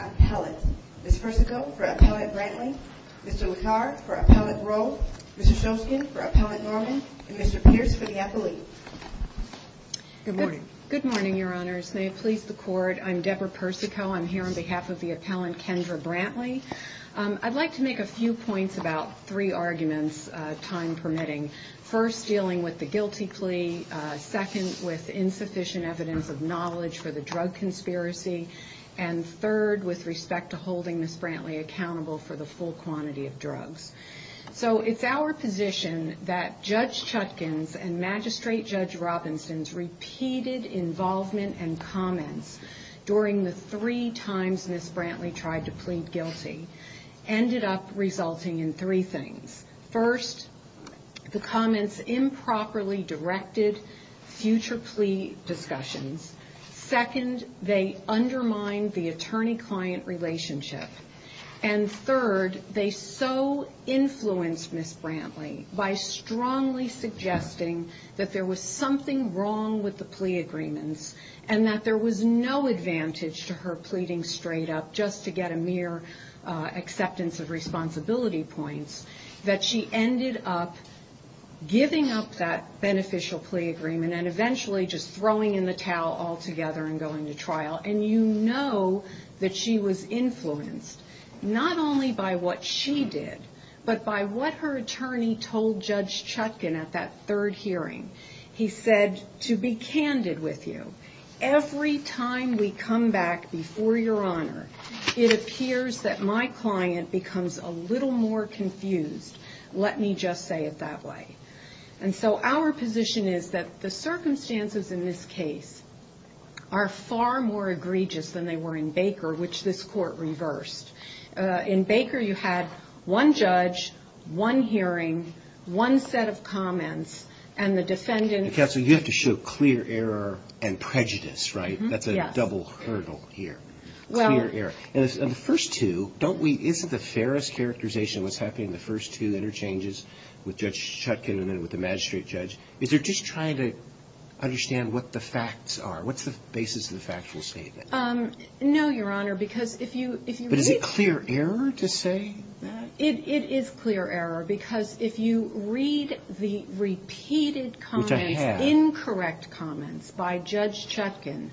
Appellate. Ms. Persico for Appellant Brantley, Mr. LaCard for Appellant Roe, Mr. Shoskin for Appellant Norman, and Mr. Pierce for the appellate. Good morning. Good morning, Your Honors. May it please the Court, I'm Deborah Persico. I'm here on behalf of the Appellant Kendra Brantley. I'd like to make a few points about three arguments, time permitting. First, dealing with the guilty plea. Second, with insufficient evidence of knowledge for the drug conspiracy. And third, with respect to holding Ms. Brantley accountable for the full quantity of drugs. So it's our position that Judge Chutkin's and Magistrate Judge Robinson's repeated involvement and comments during the three times Ms. Brantley tried to plead guilty ended up resulting in three things. First, the comments improperly directed future plea discussions. Second, they undermined the attorney-client relationship. And third, they so influenced Ms. Brantley by strongly suggesting that there was something wrong with the plea agreements and that there was no advantage to her pleading straight up just to get a mere acceptance of responsibility points, that she ended up giving up that beneficial plea agreement and eventually just throwing in the towel altogether and going to trial. And you know that she was influenced not only by what she did, but by what her attorney told Judge Chutkin at that third hearing. He said, to be candid with you, every time we come back before Your Honor, it appears that my client becomes a little more confused, let me just say it that way. And so our position is that the circumstances in this case are far more egregious than they were in Baker, which this Court reversed. In Baker, you had one judge, one hearing, one set of comments, and the defendant... Counsel, you have to show clear error and prejudice, right? That's a double hurdle here. Clear error. And the first two, don't we, isn't the fairest characterization of what's happening in the first two interchanges with Judge Chutkin and then with the magistrate judge, is they're just trying to understand what the facts are. What's the basis of the factual statement? No, Your Honor, because if you... But is it clear error to say that? It is clear error, because if you read the repeated comments, incorrect comments by Judge Chutkin,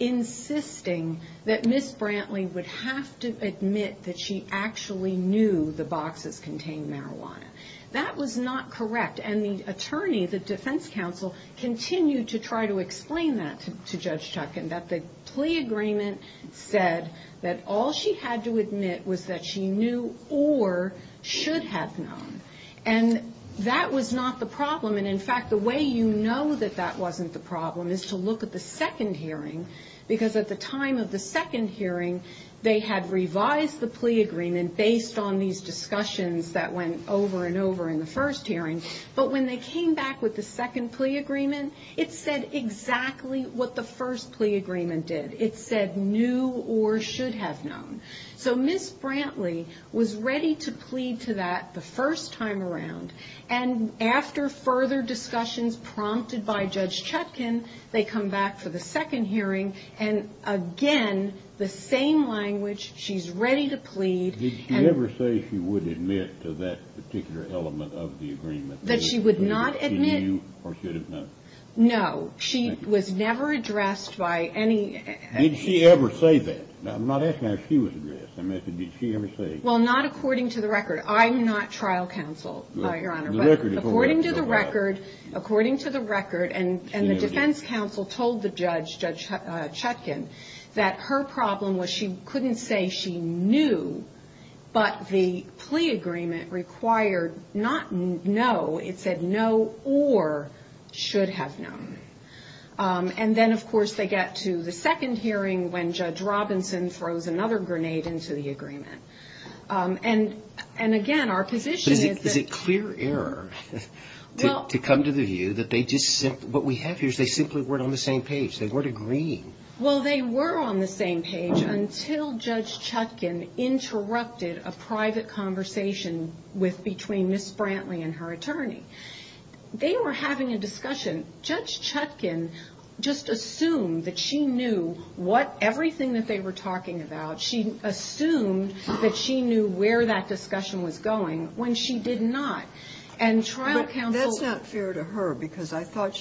insisting that Ms. Brantley would have to admit that she actually knew the boxes contained marijuana, that was not correct. And the attorney, the defense counsel, continued to try to explain that to Judge Chutkin, that the plea agreement said that all she had to admit was that she knew or should have known. And that was not the problem. And in fact, the way you know that that wasn't the problem is to look at the second hearing, because at the time of the second hearing, they had revised the plea agreement based on these discussions that went over and over in the first hearing. But when they came back with the second plea agreement, it said exactly what the first plea agreement did. It said knew or should have known. So Ms. Brantley was ready to plead to that the first time around. And after further discussions prompted by Judge Chutkin, they come back for the second hearing, and again, the same language. She's ready to plead. Did she ever say she would admit to that particular element of the agreement? That she would not admit... That she knew or should have known. No. She was never addressed by any... Did she ever say that? I'm not asking how she was addressed. I'm asking did she ever say... Well, not according to the record. I'm not trial counsel, Your Honor, but according to the record, according to the record, and the defense counsel told the judge, Judge Chutkin, that her problem was she couldn't say she knew, but the plea agreement required not know. It said know or should have known. And then, of course, they get to the second hearing when Judge Robinson throws another grenade into the agreement. And again, our position is that... Is it clear error to come to the view that they just simply... What we have here is they simply weren't on the same page. They weren't agreeing. Well, they were on the same page until Judge Chutkin interrupted a private conversation with between Ms. Brantley and her attorney. They were having a discussion. Judge Chutkin just assumed that she knew what everything that they were talking about. She assumed that she knew where that discussion was going when she did not. And trial counsel... But that's not fair to her because I thought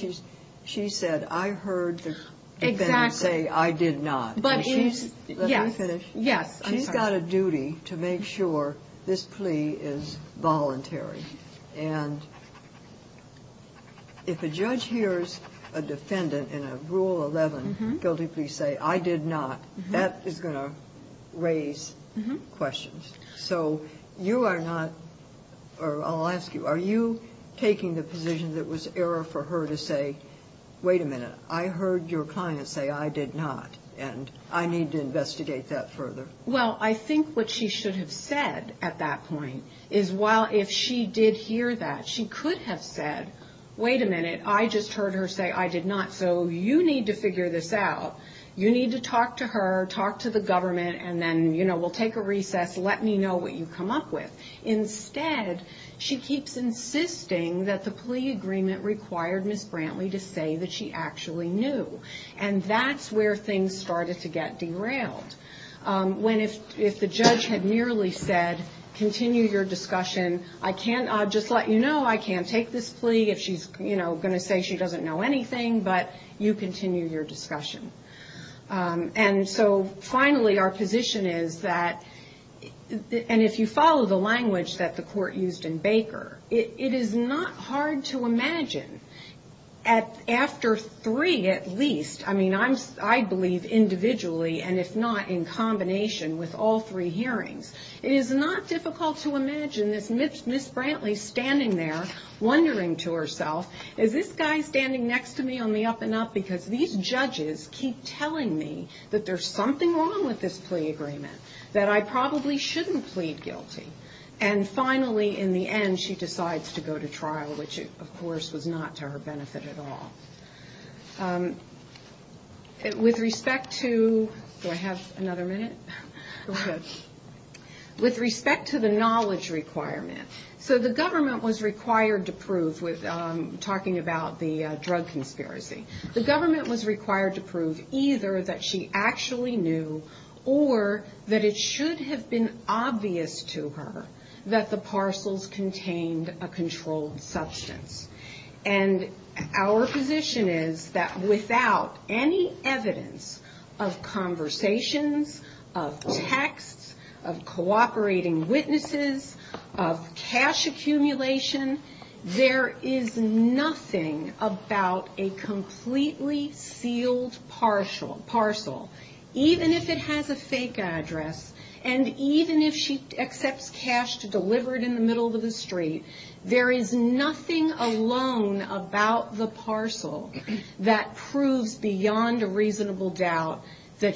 she said, I heard the defendant say, I did not. Exactly. Let me finish. Yes. She's got a duty to make sure this plea is voluntary. And if a judge hears a defendant in a Rule 11 guilty plea say, I did not, that is going to raise questions. So you are not or I'll ask you, are you taking the position that was error for her to say, wait a minute, I heard your client say, I did not, and I need to investigate that further? Well, I think what she should have said at that point is if she did hear that, she could have said, wait a minute, I just heard her say, I did not. So you need to figure this out. You need to talk to her, talk to the government, and then we'll take a recess. Let me know what you come up with. Instead, she keeps insisting that the plea agreement required Ms. Brantley to say that she actually knew. And that's where things started to get derailed. When if the judge had merely said, continue your discussion, I can't, I'll just let you know, I can't take this plea. If she's going to say she doesn't know anything, but you continue your discussion. And so finally, our position is that, and if you follow the language that the court used in Baker, it is not hard to imagine, after three at least, I mean, I believe individually and if not, in combination with all three hearings, it is not difficult to imagine this Ms. Brantley standing there, wondering to herself, is this guy standing next to me on the up and up? Because these judges keep telling me that there's something wrong with this plea agreement, that I probably shouldn't plead guilty. And finally, in the end, she decides to go to trial, which of course was not to her benefit at all. With respect to, do I have another minute? With respect to the knowledge requirement, so the government was required to prove, talking about the drug conspiracy, the government was required to prove either that she actually knew or that it should have been obvious to her that the parcels contained a controlled substance. And our position is that without any evidence of conversations, of texts, of cooperating witnesses, of cash accumulation, there is nothing about a completely sealed parcel, even if it has a fake address, and even if she accepts cash delivered in the street, there is nothing alone about the parcel that proves beyond a reasonable doubt that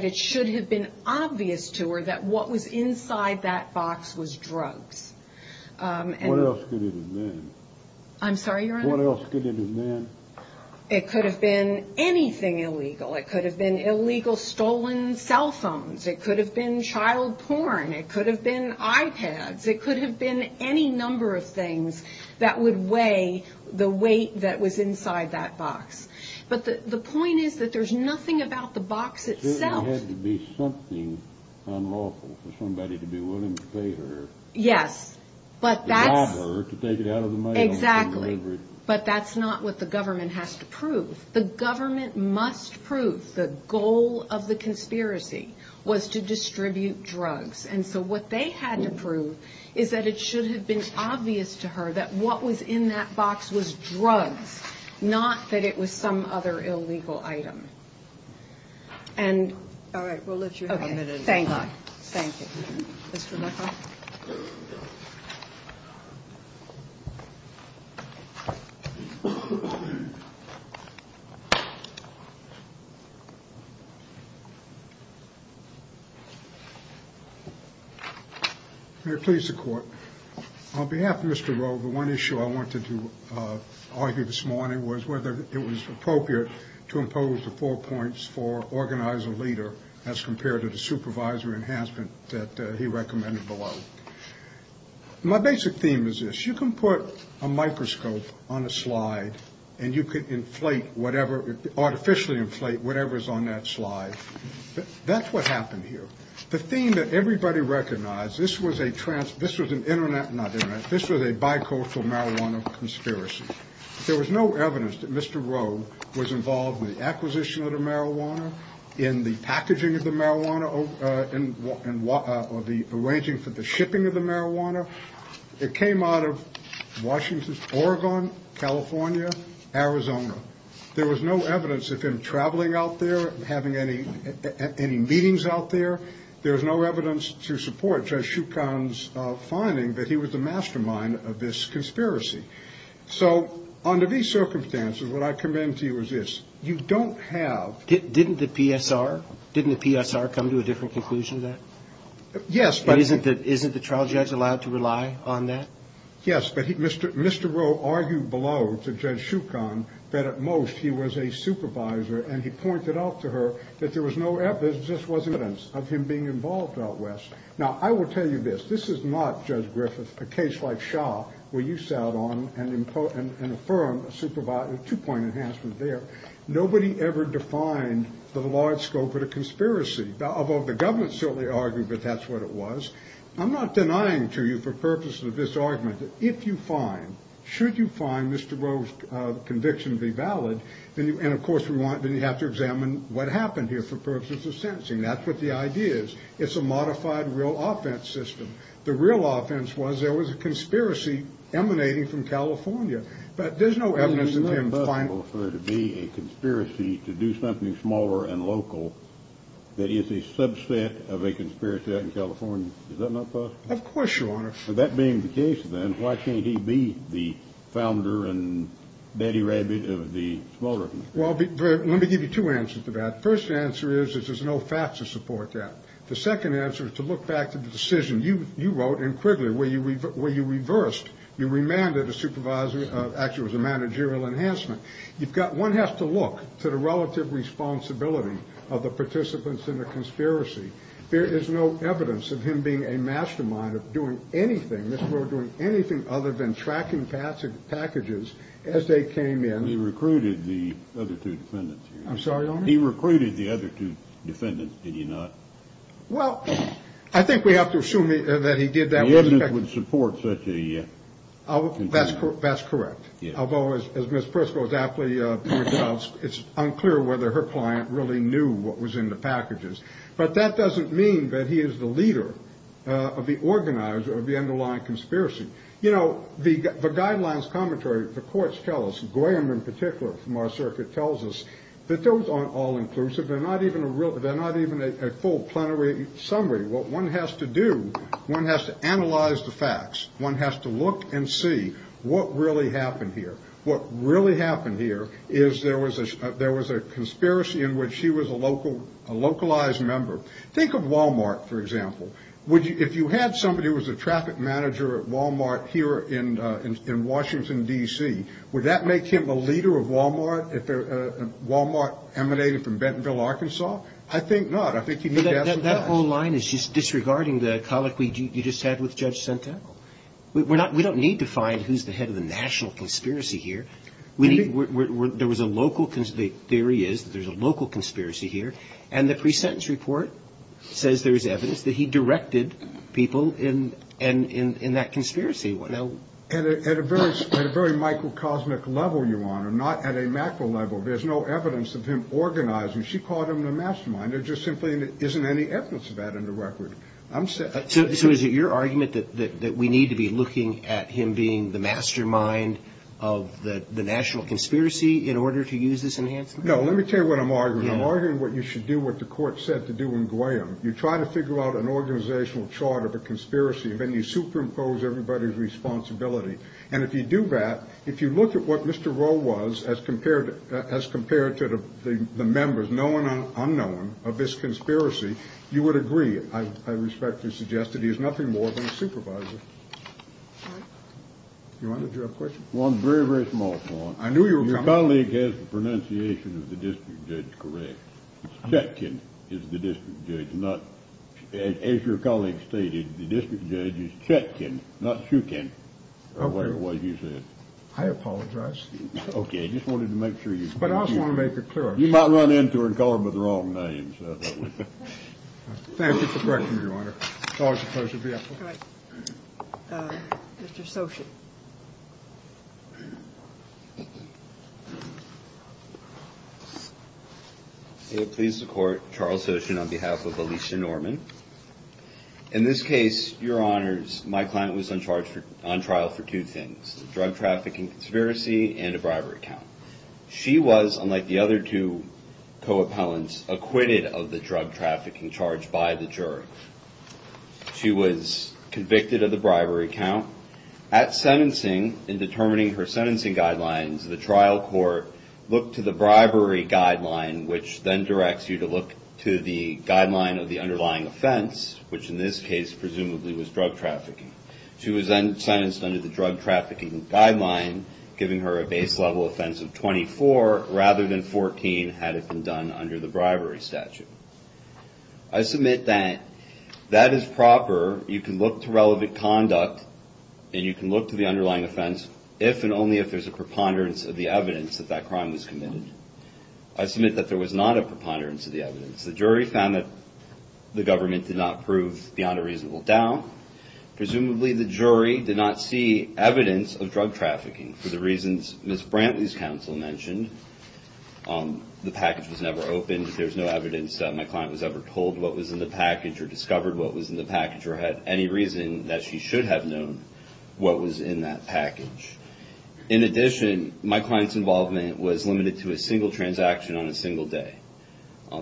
it should have been obvious to her that what was inside that box was drugs. What else could it have been? I'm sorry, Your Honor? What else could it have been? It could have been anything illegal. It could have been illegal stolen cell phones. It could have been child porn. It could have been iPads. It could have been any number of things that would weigh the weight that was inside that box. But the point is that there's nothing about the box itself. It certainly had to be something unlawful for somebody to be willing to pay her. Yes, but that's... To rob her to take it out of the money. Exactly, but that's not what the government has to prove. The government must prove the goal of the conspiracy was to distribute drugs. So what they had to prove is that it should have been obvious to her that what was in that box was drugs, not that it was some other illegal item. All right, we'll let you have a minute. Okay, thank you. Thank you. Mr. McLaughlin? May it please the court. On behalf of Mr. Rowe, the one issue I wanted to argue this morning was whether it was appropriate to impose the four points for organize a leader as compared to the supervisory enhancement that he recommended below. My basic theme is this. You can put a microscope on a slide and you can inflate whatever, artificially inflate whatever's on that slide. That's what happened here. The theme that everybody recognized, this was a trans, this was an internet, not internet, this was a bicoastal marijuana conspiracy. There was no evidence that Mr. Rowe was involved with the acquisition of the marijuana, in the packaging of the marijuana, or the arranging for the shipping of the marijuana. It came out of Washington, Oregon, California, Arizona. There was no evidence of him traveling out there, having any meetings out there. There was no evidence to support Judge Shukin's finding that he was the mastermind of this conspiracy. So under these circumstances, what I commend to you is this. You don't have the Didn't the PSR come to a different conclusion to that? Yes. But isn't the trial judge allowed to rely on that? Yes, but Mr. Rowe argued below to Judge Shukin that at most he was a supervisor, and he pointed out to her that there was no evidence, there just wasn't evidence, of him being involved out west. Now, I will tell you this. This is not, Judge Griffith, a case like Shaw, where you sat on and affirmed a two-point enhancement there. Nobody ever defined the large scope of the conspiracy, although the government certainly argued that that's what it was. I'm not denying to you for purposes of this argument that if you find, should you find Mr. Rowe's conviction to be valid, then you have to examine what happened here for purposes of sentencing. That's what the idea is. It's a modified real offense system. The real offense was there was a conspiracy emanating from California, but there's no evidence of him finding a conspiracy to do something smaller and local that is a subset of a conspiracy out in California. Is that not possible? Of course, Your Honor. That being the case, then, why can't he be the founder and daddy rabbit of the smaller? Well, let me give you two answers to that. The first answer is that there's no facts to support that. The second answer is to look back to the decision you wrote in Quigley where you reversed. You remanded a supervisor, actually it was a managerial enhancement. One has to look to the relative responsibility of the participants in the conspiracy. There is no evidence of him being a mastermind of doing anything, Mr. Rowe doing anything other than tracking packages as they came in. He recruited the other two defendants. I'm sorry, Your Honor? He recruited the other two defendants, did he not? Well, I think we have to assume that he did that. The evidence would support such a. That's correct. Although, as Ms. Prisco was aptly pointed out, it's unclear whether her client really knew what was in the packages. But that doesn't mean that he is the leader of the organizer of the underlying conspiracy. You know, the guidelines commentary, the courts tell us, Graham in particular from our circuit tells us that those aren't all inclusive. They're not even a full plenary summary. What one has to do, one has to analyze the facts. One has to look and see what really happened here. What really happened here is there was a conspiracy in which he was a localized member. Think of Wal-Mart, for example. If you had somebody who was a traffic manager at Wal-Mart here in Washington, D.C., would that make him a leader of Wal-Mart if Wal-Mart emanated from Bentonville, Arkansas? I think not. That whole line is just disregarding the colloquy you just had with Judge Senta. We don't need to find who's the head of the national conspiracy here. There was a local conspiracy. The theory is that there's a local conspiracy here. And the pre-sentence report says there's evidence that he directed people in that conspiracy. At a very microcosmic level, Your Honor, not at a macro level, there's no evidence of him organizing. She called him the mastermind. There just simply isn't any evidence of that in the record. So is it your argument that we need to be looking at him being the mastermind of the national conspiracy in order to use this enhancement? No. Let me tell you what I'm arguing. I'm arguing what you should do what the court said to do in Graham. You try to figure out an organizational chart of a conspiracy, and then you superimpose everybody's responsibility. And if you do that, if you look at what Mr. Roe was as compared to the members, known and unknown, of this conspiracy, you would agree, I respectfully suggest, that he is nothing more than a supervisor. Your Honor, did you have a question? One very, very small one. I knew you were coming. Your colleague has the pronunciation of the district judge correct. Chetkin is the district judge. As your colleague stated, the district judge is Chetkin, not Shookin, or whatever you said. I apologize. Okay. I just wanted to make sure you were clear. But I also want to make it clear. You might run into her and call her by the wrong name. Thank you for correcting me, Your Honor. It's always a pleasure to be up here. Mr. Soshin. Please support Charles Soshin on behalf of Alicia Norman. In this case, Your Honors, my client was on trial for two things, a drug trafficking conspiracy and a bribery count. She was, unlike the other two co-appellants, acquitted of the drug trafficking charge by the jury. She was convicted of the bribery count. At sentencing, in determining her sentencing guidelines, the trial court looked to the bribery guideline, which then directs you to look to the guideline of the underlying offense, which in this case presumably was drug trafficking. She was then sentenced under the drug trafficking guideline, giving her a base level offense of 24 rather than 14, had it been done under the bribery statute. I submit that that is proper. However, you can look to relevant conduct and you can look to the underlying offense if and only if there's a preponderance of the evidence that that crime was committed. I submit that there was not a preponderance of the evidence. The jury found that the government did not prove beyond a reasonable doubt. Presumably, the jury did not see evidence of drug trafficking for the reasons Ms. Brantley's counsel mentioned. The package was never opened. There's no evidence that my client was ever told what was in the package or discovered what was in the package or had any reason that she should have known what was in that package. In addition, my client's involvement was limited to a single transaction on a single day.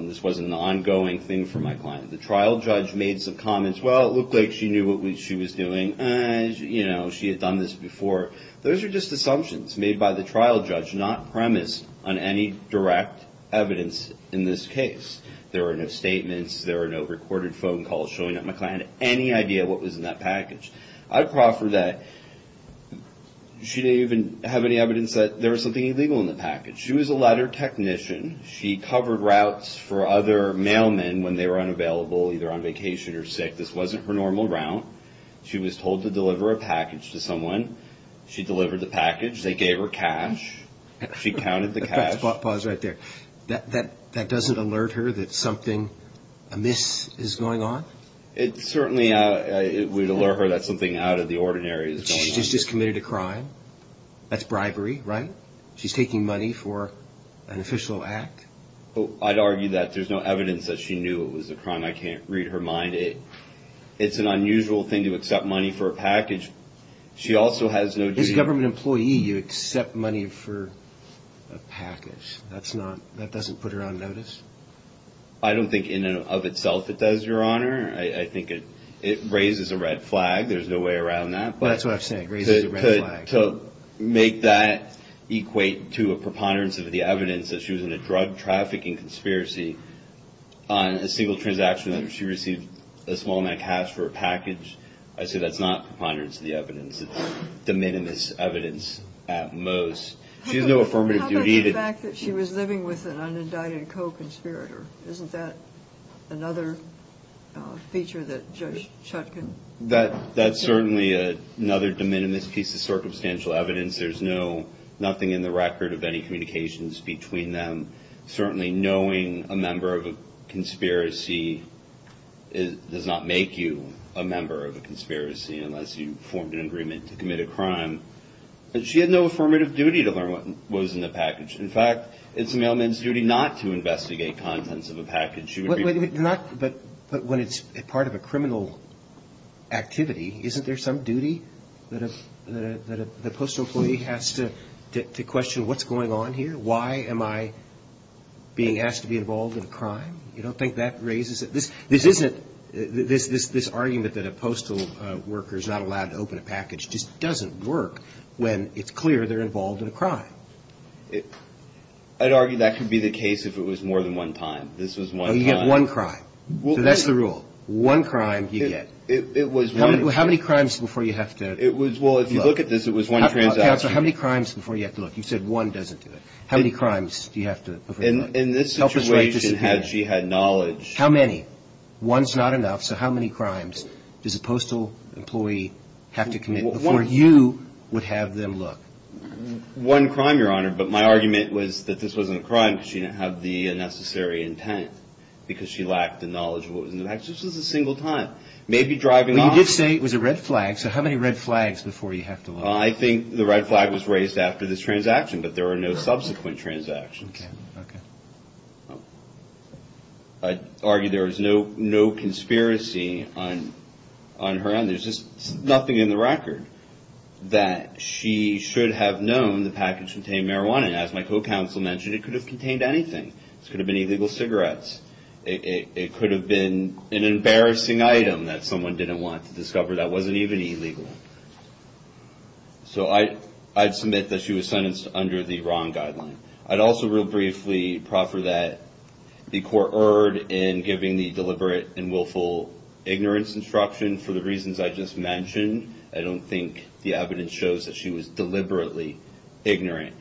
This wasn't an ongoing thing for my client. The trial judge made some comments. Well, it looked like she knew what she was doing. You know, she had done this before. Those are just assumptions made by the trial judge, not premised on any direct evidence in this case. There were no statements. There were no recorded phone calls showing that my client had any idea what was in that package. I proffer that she didn't even have any evidence that there was something illegal in the package. She was a ladder technician. She covered routes for other mailmen when they were unavailable, either on vacation or sick. This wasn't her normal route. She was told to deliver a package to someone. She delivered the package. They gave her cash. She counted the cash. Pause right there. That doesn't alert her that something amiss is going on? It certainly would alert her that something out of the ordinary is going on. She's just committed a crime. That's bribery, right? She's taking money for an official act. I'd argue that there's no evidence that she knew it was a crime. I can't read her mind. It's an unusual thing to accept money for a package. As a government employee, you accept money for a package. That doesn't put her on notice? I don't think in and of itself it does, Your Honor. I think it raises a red flag. There's no way around that. That's what I'm saying, raises a red flag. To make that equate to a preponderance of the evidence that she was in a drug trafficking conspiracy on a single transaction, she received a small amount of cash for a package. I say that's not preponderance of the evidence. It's de minimis evidence at most. She has no affirmative duty. How about the fact that she was living with an unindicted co-conspirator? Isn't that another feature that Judge Chutkan? That's certainly another de minimis piece of circumstantial evidence. There's nothing in the record of any communications between them. Certainly knowing a member of a conspiracy does not make you a member of a conspiracy unless you formed an agreement to commit a crime. She had no affirmative duty to learn what was in the package. In fact, it's a mailman's duty not to investigate contents of a package. But when it's part of a criminal activity, isn't there some duty that a postal employee has to question what's going on here? Why am I being asked to be involved in a crime? You don't think that raises it? This argument that a postal worker is not allowed to open a package just doesn't work when it's clear they're involved in a crime. I'd argue that could be the case if it was more than one time. This was one time. You get one crime. So that's the rule. One crime you get. How many crimes before you have to look? Well, if you look at this, it was one transaction. Counsel, how many crimes before you have to look? You said one doesn't do it. How many crimes do you have to look? In this situation, she had knowledge. How many? One's not enough. So how many crimes does a postal employee have to commit before you would have them look? One crime, Your Honor, but my argument was that this wasn't a crime because she didn't have the necessary intent because she lacked the knowledge of what was in the package. This was a single time. Maybe driving off. So how many red flags before you have to look? I think the red flag was raised after this transaction, but there were no subsequent transactions. Okay. I'd argue there was no conspiracy on her end. There's just nothing in the record that she should have known the package contained marijuana. As my co-counsel mentioned, it could have contained anything. It could have been illegal cigarettes. It could have been an embarrassing item that someone didn't want to discover that wasn't even illegal. So I'd submit that she was sentenced under the wrong guideline. I'd also real briefly proffer that the court erred in giving the deliberate and willful ignorance instruction for the reasons I just mentioned. I don't think the evidence shows that she was deliberately ignorant.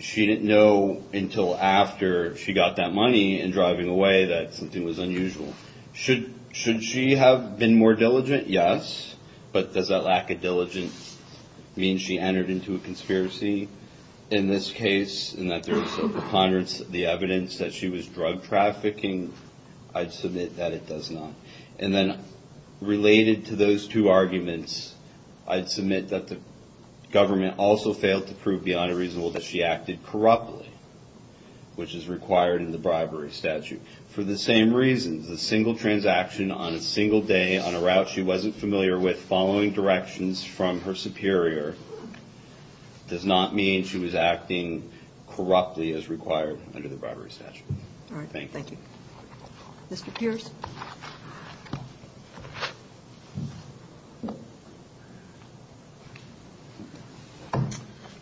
She didn't know until after she got that money and driving away that something was unusual. Should she have been more diligent? Yes. But does that lack of diligence mean she entered into a conspiracy in this case and that there's a preponderance of the evidence that she was drug trafficking? I'd submit that it does not. And then related to those two arguments, I'd submit that the government also failed to prove beyond a reasonable that she acted corruptly, which is required in the bribery statute. For the same reasons, a single transaction on a single day on a route she wasn't familiar with following directions from her superior does not mean she was acting corruptly as required under the bribery statute. All right. Thank you. Mr. Pierce.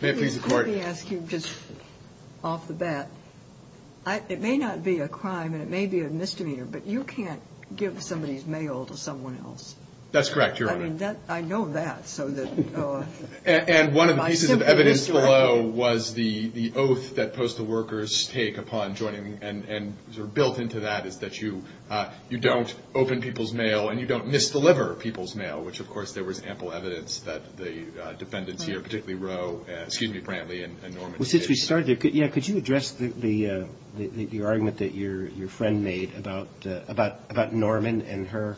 Let me ask you just off the bat. It may not be a crime and it may be a misdemeanor, but you can't give somebody's mail to someone else. That's correct, Your Honor. I mean, I know that. And one of the pieces of evidence below was the oath that postal workers take upon joining and sort of built into that is that you don't open people's mail and you don't misdeliver people's mail, which, of course, there was ample evidence that the defendants here, particularly Roe, excuse me, Brantley and Norman, did. Well, since we started, yeah, could you address the argument that your friend made about Norman and her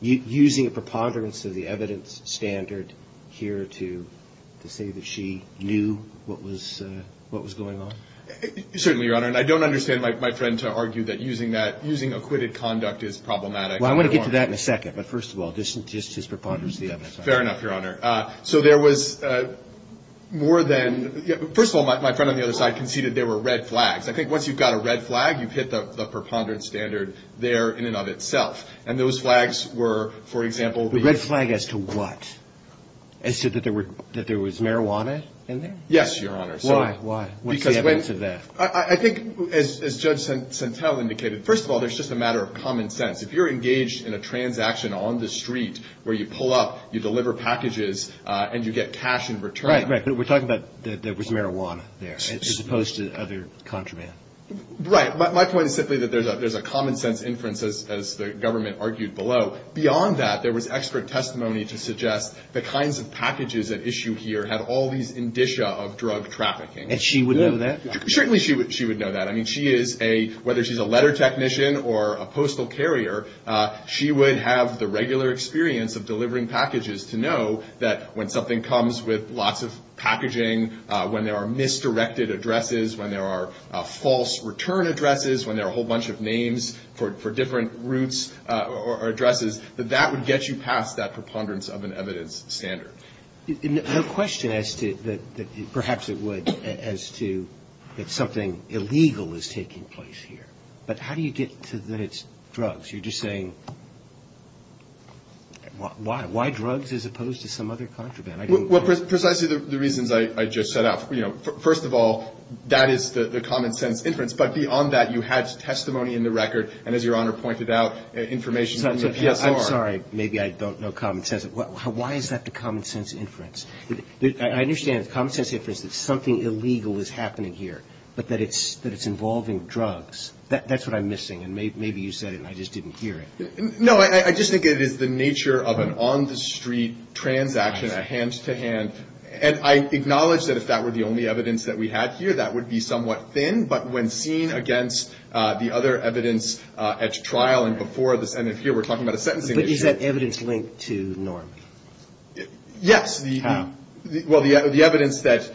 using a preponderance of the evidence standard here to say that she knew what was going on? Certainly, Your Honor. And I don't understand my friend to argue that using acquitted conduct is problematic. Well, I want to get to that in a second. But first of all, just his preponderance of the evidence. Fair enough, Your Honor. So there was more than — first of all, my friend on the other side conceded there were red flags. I think once you've got a red flag, you've hit the preponderance standard there in and of itself. And those flags were, for example — The red flag as to what? As to that there was marijuana in there? Yes, Your Honor. Why? What's the evidence of that? I think, as Judge Sentelle indicated, first of all, there's just a matter of common sense. If you're engaged in a transaction on the street where you pull up, you deliver packages, and you get cash in return — Right, right. But we're talking about there was marijuana there as opposed to other contraband. Right. My point is simply that there's a common sense inference, as the government argued below. Beyond that, there was expert testimony to suggest the kinds of packages at issue here had all these indicia of drug trafficking. And she would know that? Certainly she would know that. I mean, she is a — whether she's a letter technician or a postal carrier, she would have the regular experience of delivering packages to know that when something comes with lots of packaging, when there are misdirected addresses, when there are false return addresses, when there are a whole bunch of names for different routes or addresses, that that would get you past that preponderance of an evidence standard. No question as to — perhaps it would — as to that something illegal is taking place here. But how do you get to that it's drugs? You're just saying — why? Why drugs as opposed to some other contraband? Well, precisely the reasons I just set out. You know, first of all, that is the common sense inference. But beyond that, you had testimony in the record, and as Your Honor pointed out, information from the PSR. I'm sorry. Maybe I don't know common sense. Why is that the common sense inference? I understand it's common sense inference that something illegal is happening here, but that it's involving drugs. That's what I'm missing. And maybe you said it, and I just didn't hear it. No, I just think it is the nature of an on-the-street transaction, a hand-to-hand. And I acknowledge that if that were the only evidence that we had here, that would be somewhat thin. But when seen against the other evidence at trial and before the Senate here, we're talking about a sentencing issue. But is that evidence linked to Norm? Yes. How? Well, the evidence that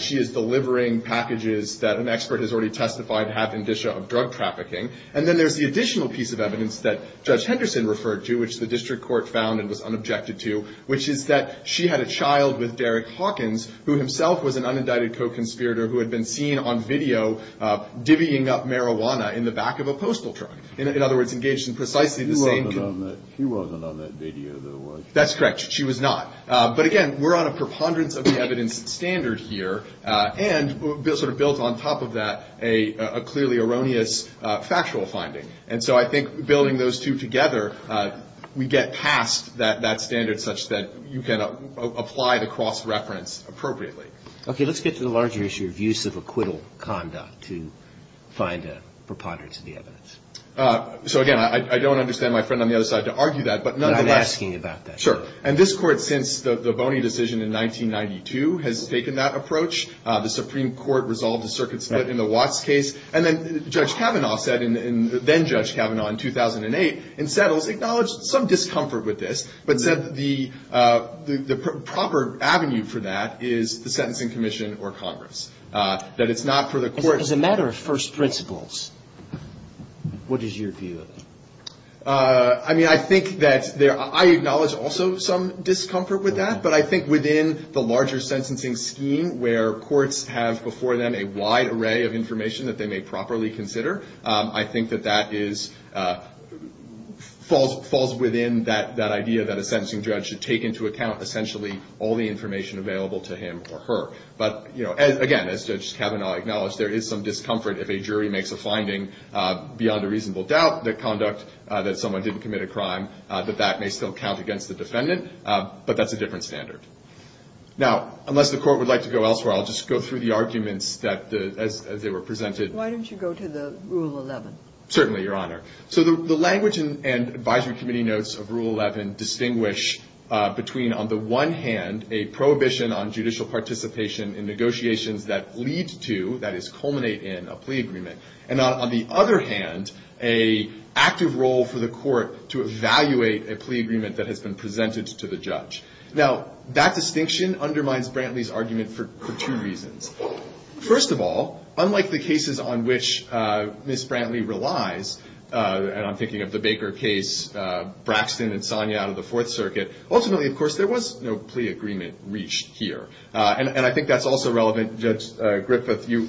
she is delivering packages that an expert has already testified have indicia of drug trafficking. And then there's the additional piece of evidence that Judge Henderson referred to, which the district court found and was unobjected to, which is that she had a child with Derek Hawkins, who himself was an unindicted co-conspirator, who had been seen on video divvying up marijuana in the back of a postal truck. In other words, engaged in precisely the same — He wasn't on that video, though, was he? That's correct. She was not. But, again, we're on a preponderance of the evidence standard here and sort of built on top of that a clearly erroneous factual finding. And so I think building those two together, we get past that standard such that you can apply the cross-reference appropriately. Okay. Let's get to the larger issue of use of acquittal conduct to find a preponderance of the evidence. So, again, I don't understand my friend on the other side to argue that, but nonetheless — You've been asking about that. Sure. And this Court, since the Boney decision in 1992, has taken that approach. The Supreme Court resolved the circuit split in the Watts case. And then Judge Kavanaugh said in — then-Judge Kavanaugh in 2008, in settles, acknowledged some discomfort with this, but said the proper avenue for that is the sentencing commission or Congress, that it's not for the court — As a matter of first principles, what is your view of it? I mean, I think that there — I acknowledge also some discomfort with that, but I think within the larger sentencing scheme where courts have before them a wide array of information that they may properly consider, I think that that is — falls within that idea that a sentencing judge should take into account, essentially, all the information available to him or her. But, you know, again, as Judge Kavanaugh acknowledged, there is some discomfort if a jury makes a finding beyond a reasonable doubt that conduct — that someone didn't commit a crime, that that may still count against the defendant. But that's a different standard. Now, unless the Court would like to go elsewhere, I'll just go through the arguments that, as they were presented — Why don't you go to the Rule 11? Certainly, Your Honor. So the language and advisory committee notes of Rule 11 distinguish between, on the one hand, a prohibition on judicial participation in negotiations that lead to, that is, culminate in, a plea agreement, and on the other hand, an active role for the Court to evaluate a plea agreement that has been presented to the judge. Now, that distinction undermines Brantley's argument for two reasons. First of all, unlike the cases on which Ms. Brantley relies, and I'm thinking of the Baker case, Braxton and Sonia out of the Fourth Circuit, ultimately, of course, there was no plea agreement reached here. And I think that's also relevant. Judge Griffith, you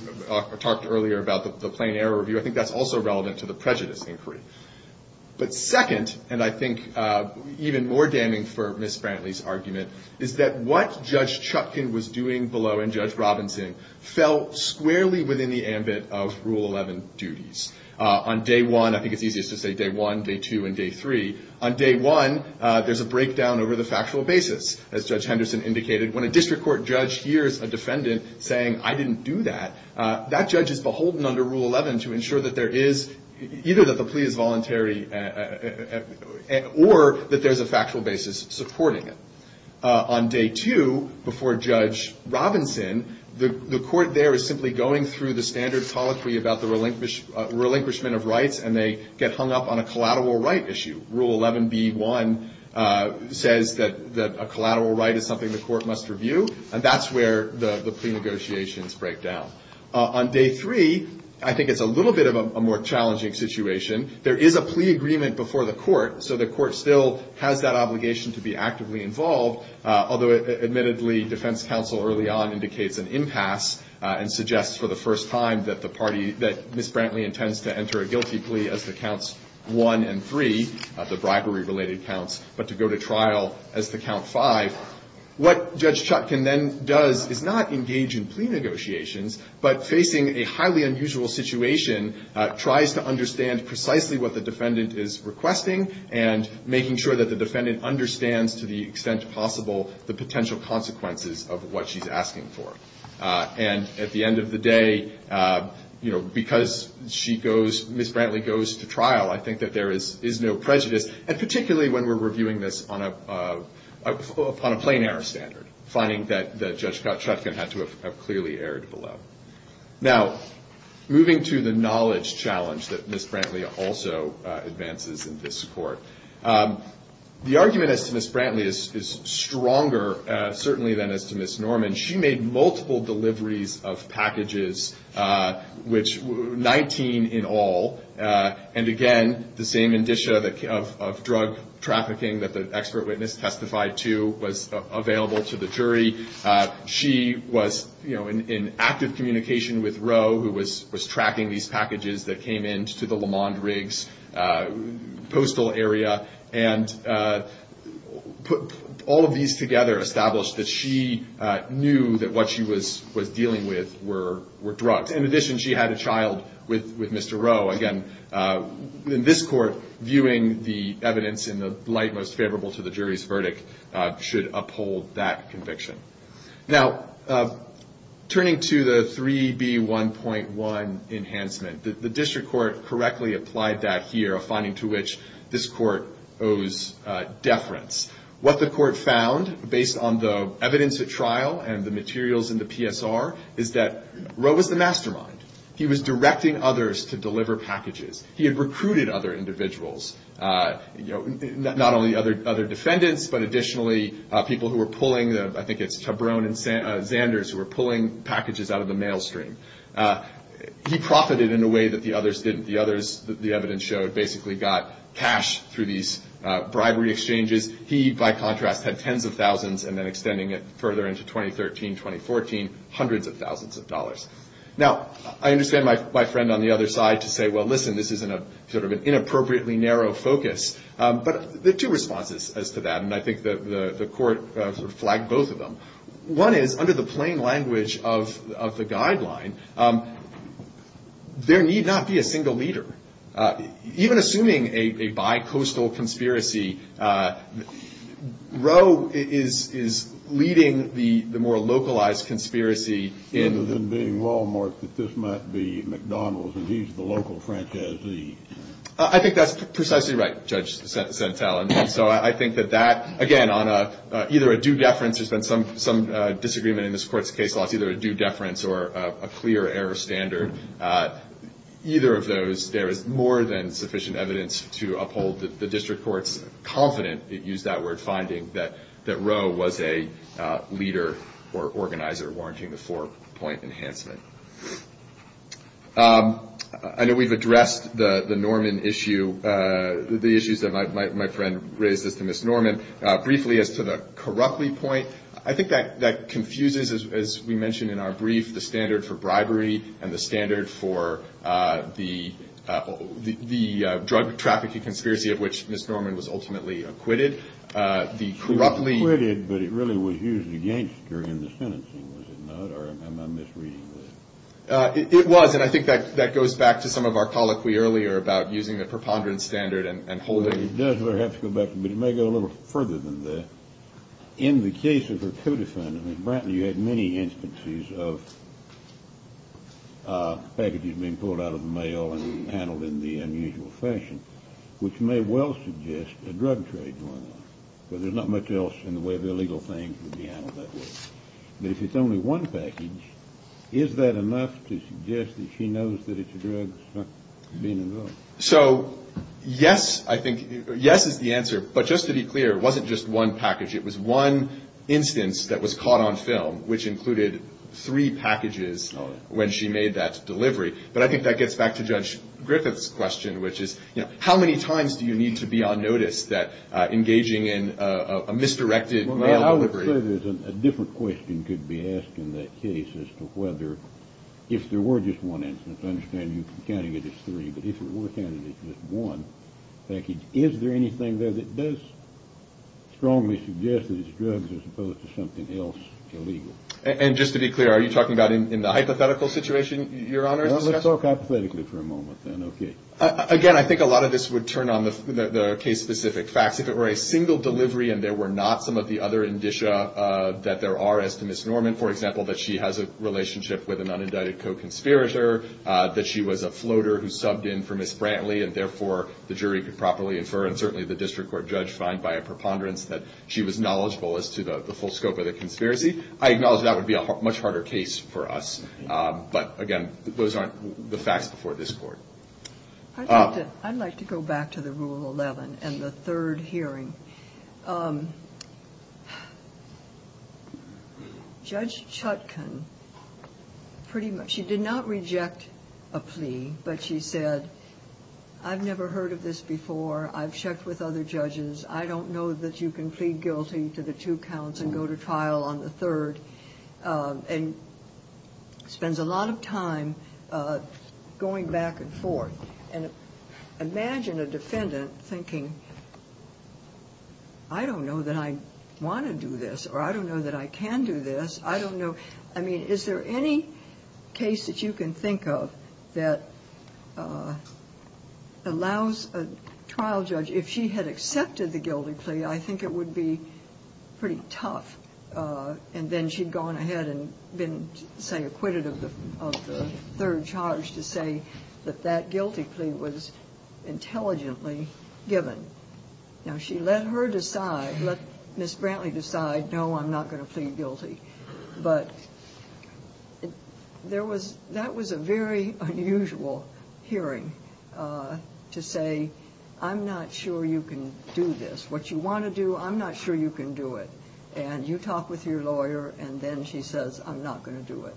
talked earlier about the plain error review. I think that's also relevant to the prejudice inquiry. But second, and I think even more damning for Ms. Brantley's argument, is that what Judge Chupkin was doing below and Judge Robinson fell squarely within the ambit of Rule 11 duties. On day one — I think it's easiest to say day one, day two, and day three — on day one, there's a breakdown over the factual basis, as Judge Henderson indicated. When a district court judge hears a defendant saying, I didn't do that, that judge is beholden under Rule 11 to ensure that there is — either that the plea is voluntary or that there's a factual basis supporting it. On day two, before Judge Robinson, the Court there is simply going through the standards about the relinquishment of rights, and they get hung up on a collateral right issue. Rule 11b-1 says that a collateral right is something the Court must review, and that's where the plea negotiations break down. On day three, I think it's a little bit of a more challenging situation. There is a plea agreement before the Court, so the Court still has that obligation to be actively involved, although, admittedly, defense counsel early on indicates an impasse and suggests for the first time that the party — that Ms. Brantley intends to enter a guilty plea as to counts one and three, the bribery-related counts, but to go to trial as to count five. What Judge Chutkan then does is not engage in plea negotiations, but facing a highly unusual situation, tries to understand precisely what the defendant is requesting and making sure that the defendant understands to the extent possible the potential consequences of what she's asking for. And at the end of the day, you know, because she goes — Ms. Brantley goes to trial, I think that there is no prejudice, and particularly when we're reviewing this upon a plain-error standard, finding that Judge Chutkan had to have clearly erred below. Now, moving to the knowledge challenge that Ms. Brantley also advances in this Court. The argument as to Ms. Brantley is stronger, certainly, than as to Ms. Norman. She made multiple deliveries of packages, which — 19 in all. And again, the same indicia of drug trafficking that the expert witness testified to was available to the jury. She was, you know, in active communication with Roe, who was tracking these packages that came into the LeMond Riggs postal area, and put all of these together, established that she knew that what she was dealing with were drugs. In addition, she had a child with Mr. Roe. Again, in this Court, viewing the evidence in the light most favorable to the jury's verdict should uphold that conviction. Now, turning to the 3B1.1 enhancement, the district court correctly applied that here, a finding to which this Court owes deference. What the Court found, based on the evidence at trial and the materials in the PSR, is that Roe was the mastermind. He was directing others to deliver packages. He had recruited other individuals, you know, not only other defendants, but additionally people who were pulling — I think it's Chabrone and Zanders who were pulling packages out of the mail stream. He profited in a way that the others didn't. The others, the evidence showed, basically got cash through these bribery exchanges. He, by contrast, had tens of thousands, and then extending it further into 2013, 2014, hundreds of thousands of dollars. Now, I understand my friend on the other side to say, well, listen, this is sort of an inappropriately narrow focus. But there are two responses as to that, and I think the Court flagged both of them. One is, under the plain language of the guideline, there need not be a single leader. Even assuming a bi-coastal conspiracy, Roe is leading the more localized conspiracy in — Other than being Wal-Mart, that this might be McDonald's, and he's the local franchisee. I think that's precisely right, Judge Sentell, and so I think that that, again, on either a due deference — there's been some disagreement in this Court's case law, it's either a due deference or a clear error standard. Either of those, there is more than sufficient evidence to uphold the District Court's confident — it used that word — finding that Roe was a leader or organizer warranting the four-point enhancement. I know we've addressed the Norman issue, the issues that my friend raised as to Ms. Norman. Briefly, as to the Corruptly point, I think that confuses, as we mentioned in our brief, the standard for bribery and the standard for the drug trafficking conspiracy of which Ms. Norman was ultimately acquitted. She was acquitted, but it really was used against her in the sentencing, was it not? Or am I misreading this? It was, and I think that goes back to some of our colloquy earlier about using the preponderance standard and holding — It does, but it may go a little further than that. In the case of her co-defendant, Ms. Brantley, you had many instances of packages being pulled out of the mail and handled in the unusual fashion, which may well suggest a drug trade going on, because there's not much else in the way of illegal things would be handled that way. But if it's only one package, is that enough to suggest that she knows that it's a drug being involved? So, yes, I think — yes is the answer. But just to be clear, it wasn't just one package. It was one instance that was caught on film, which included three packages when she made that delivery. But I think that gets back to Judge Griffith's question, which is, you know, how many times do you need to be on notice that engaging in a misdirected mail delivery — Well, I would say there's a different question could be asked in that case as to whether, if there were just one instance, I understand you're counting it as three, but if there were counting it as just one package, is there anything there that does strongly suggest that it's drugs as opposed to something else illegal? And just to be clear, are you talking about in the hypothetical situation, Your Honor? Let's talk hypothetically for a moment then. Okay. Again, I think a lot of this would turn on the case-specific facts. If it were a single delivery and there were not some of the other indicia that there are as to Ms. Norman, for example, that she has a relationship with an unindicted co-conspirator, that she was a floater who subbed in for Ms. Brantley, and therefore the jury could properly infer and certainly the district court judge find by a preponderance that she was knowledgeable as to the full scope of the conspiracy, I acknowledge that would be a much harder case for us. But, again, those aren't the facts before this Court. I'd like to go back to the Rule 11 and the third hearing. Judge Chutkan, pretty much, she did not reject a plea, but she said, I've never heard of this before, I've checked with other judges, I don't know that you can plead guilty to the two counts and go to trial on the third, and spends a lot of time going back and forth. And imagine a defendant thinking, I don't know that I want to do this, or I don't know that I can do this, I don't know, I mean, is there any case that you can think of that allows a trial judge, if she had accepted the guilty plea, I think it would be pretty tough, and then she'd gone ahead and been, say, acquitted of the third charge, to say that that guilty plea was intelligently given. Now, she let her decide, let Ms. Brantley decide, no, I'm not going to plead guilty. But that was a very unusual hearing, to say, I'm not sure you can do this. What you want to do, I'm not sure you can do it. And you talk with your lawyer, and then she says, I'm not going to do it.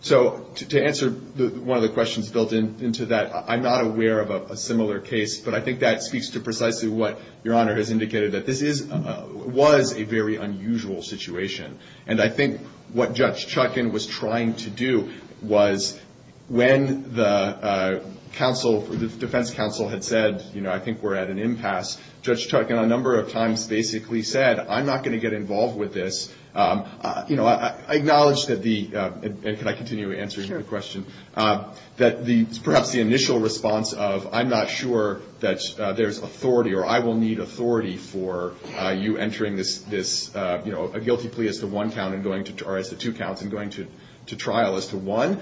So to answer one of the questions built into that, I'm not aware of a similar case, but I think that speaks to precisely what Your Honor has indicated, that this was a very unusual situation. And I think what Judge Chutkan was trying to do was, when the defense counsel had said, I think we're at an impasse, Judge Chutkan a number of times basically said, I'm not going to get involved with this. I acknowledge that the, and can I continue answering the question, that perhaps the initial response of, I'm not sure that there's authority, or I will need authority for you entering a guilty plea as to one count, or as to two counts, and going to trial as to one,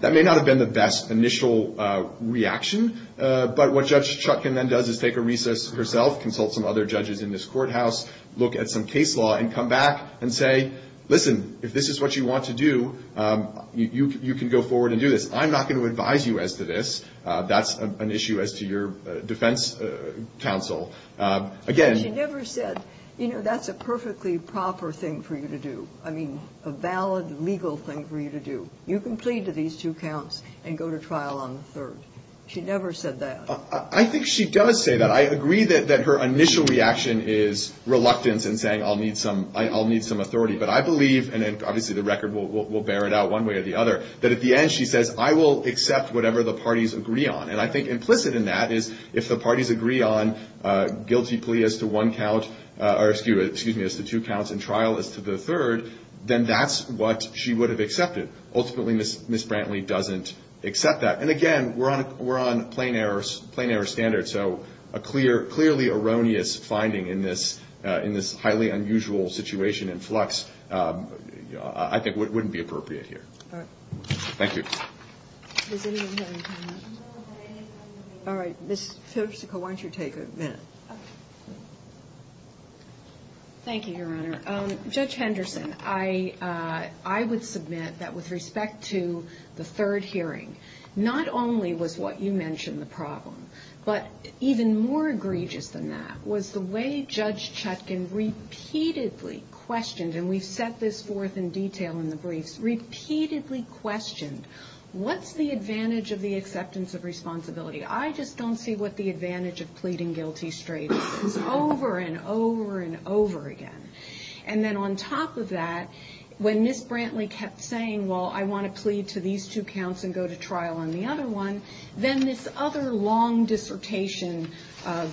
that may not have been the best initial reaction. But what Judge Chutkan then does is take a recess herself, consult some other judges in this courthouse, look at some case law and come back and say, listen, if this is what you want to do, you can go forward and do this. I'm not going to advise you as to this. That's an issue as to your defense counsel. Again. But she never said, you know, that's a perfectly proper thing for you to do. I mean, a valid legal thing for you to do. You can plead to these two counts and go to trial on the third. She never said that. I think she does say that. I agree that her initial reaction is reluctance and saying I'll need some authority. But I believe, and obviously the record will bear it out one way or the other, that at the end she says, I will accept whatever the parties agree on. And I think implicit in that is if the parties agree on guilty plea as to one count, or excuse me, as to two counts and trial as to the third, then that's what she would have accepted. Ultimately, Ms. Brantley doesn't accept that. And, again, we're on plain error standard. So a clearly erroneous finding in this highly unusual situation and flux I think wouldn't be appropriate here. All right. Thank you. Does anyone have a comment? All right. Ms. Firsico, why don't you take a minute? Thank you, Your Honor. Judge Henderson, I would submit that with respect to the third hearing, not only was what you mentioned the problem, but even more egregious than that was the way Judge Chutkin repeatedly questioned, and we've set this forth in detail in the briefs, repeatedly questioned what's the advantage of the acceptance of responsibility. I just don't see what the advantage of pleading guilty straight is. It's over and over and over again. And then on top of that, when Ms. Brantley kept saying, well, I want to plead to these two counts and go to trial on the other one, then this other long dissertation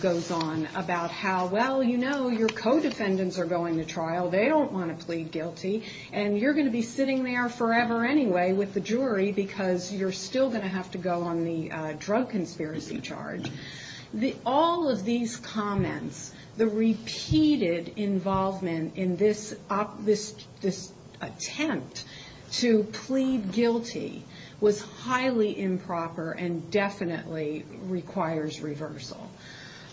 goes on about how, well, you know, your co-defendants are going to trial. They don't want to plead guilty. And you're going to be sitting there forever anyway with the jury because you're still going to have to go on the drug conspiracy charge. All of these comments, the repeated involvement in this attempt to plead guilty, was highly improper and definitely requires reversal.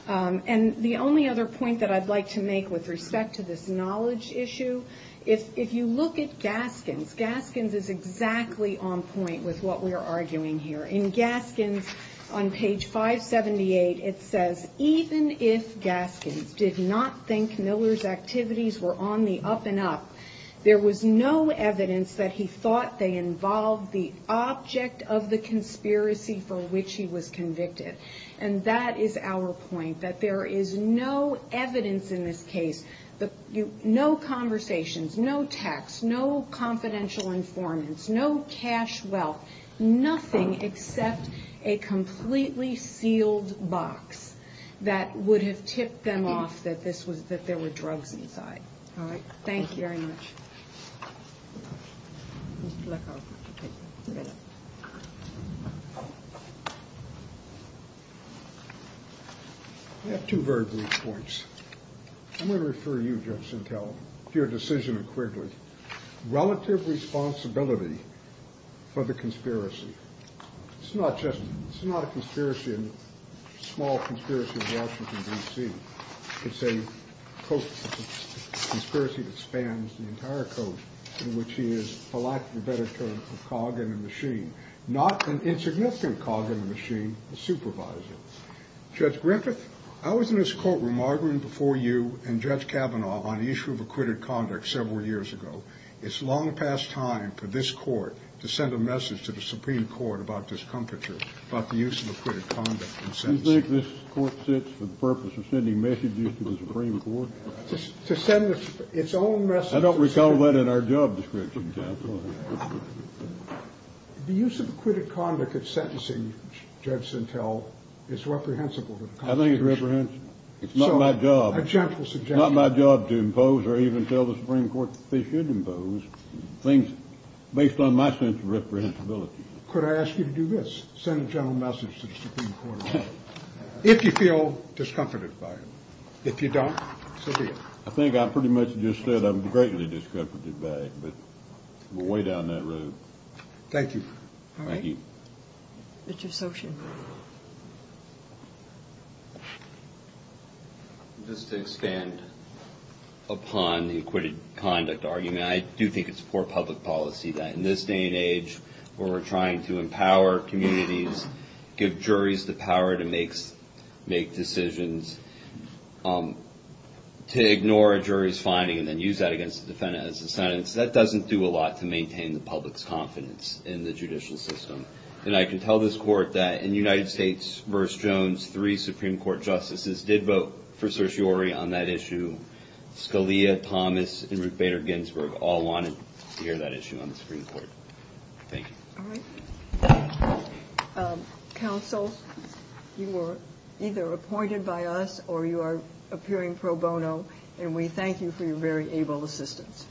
And the only other point that I'd like to make with respect to this knowledge issue, if you look at Gaskins, Gaskins is exactly on point with what we are arguing here. In Gaskins, on page 578, it says, even if Gaskins did not think Miller's activities were on the up and up, there was no evidence that he thought they involved the object of the conspiracy for which he was convicted. And that is our point, that there is no evidence in this case, no conversations, no text, no confidential informants, no cash wealth, nothing except a completely sealed box that would have tipped them off that there were drugs inside. All right, thank you very much. I have two very brief points. I'm going to refer you, Judge Sintel, to your decision of Quigley. Relative responsibility for the conspiracy. It's not just, it's not a conspiracy, a small conspiracy in Washington, D.C. It's a conspiracy that spans the entire coast in which he is, for lack of a better term, a cog in a machine. Not an insignificant cog in a machine, a supervisor. Judge Griffith, I was in this courtroom arguing before you and Judge Kavanaugh on the issue of acquitted conduct several years ago. It's long past time for this Court to send a message to the Supreme Court about discomfiture, about the use of acquitted conduct in sentencing. You think this Court sits for the purpose of sending messages to the Supreme Court? To send its own message. I don't recall that in our job description, Judge. The use of acquitted conduct in sentencing, Judge Sintel, is reprehensible to the Constitution. I think it's reprehensible. It's not my job. A gentle suggestion. It's not my job to impose or even tell the Supreme Court that they should impose things based on my sense of reprehensibility. Could I ask you to do this, send a gentle message to the Supreme Court, if you feel discomforted by it. If you don't, say it. I think I pretty much just said I'm greatly discomfited by it, but we're way down that road. Thank you. Thank you. Richard Sochin. Just to expand upon the acquitted conduct argument, I do think it's poor public policy that in this day and age, where we're trying to empower communities, give juries the power to make decisions, to ignore a jury's finding and then use that against the defendant as a sentence, that doesn't do a lot to maintain the public's confidence in the judicial system. And I can tell this Court that in United States v. Jones, three Supreme Court justices did vote for certiorari on that issue. Scalia, Thomas, and Ruth Bader Ginsburg all wanted to hear that issue on the Supreme Court. Thank you. All right. Counsel, you were either appointed by us or you are appearing pro bono, and we thank you for your very able assistance.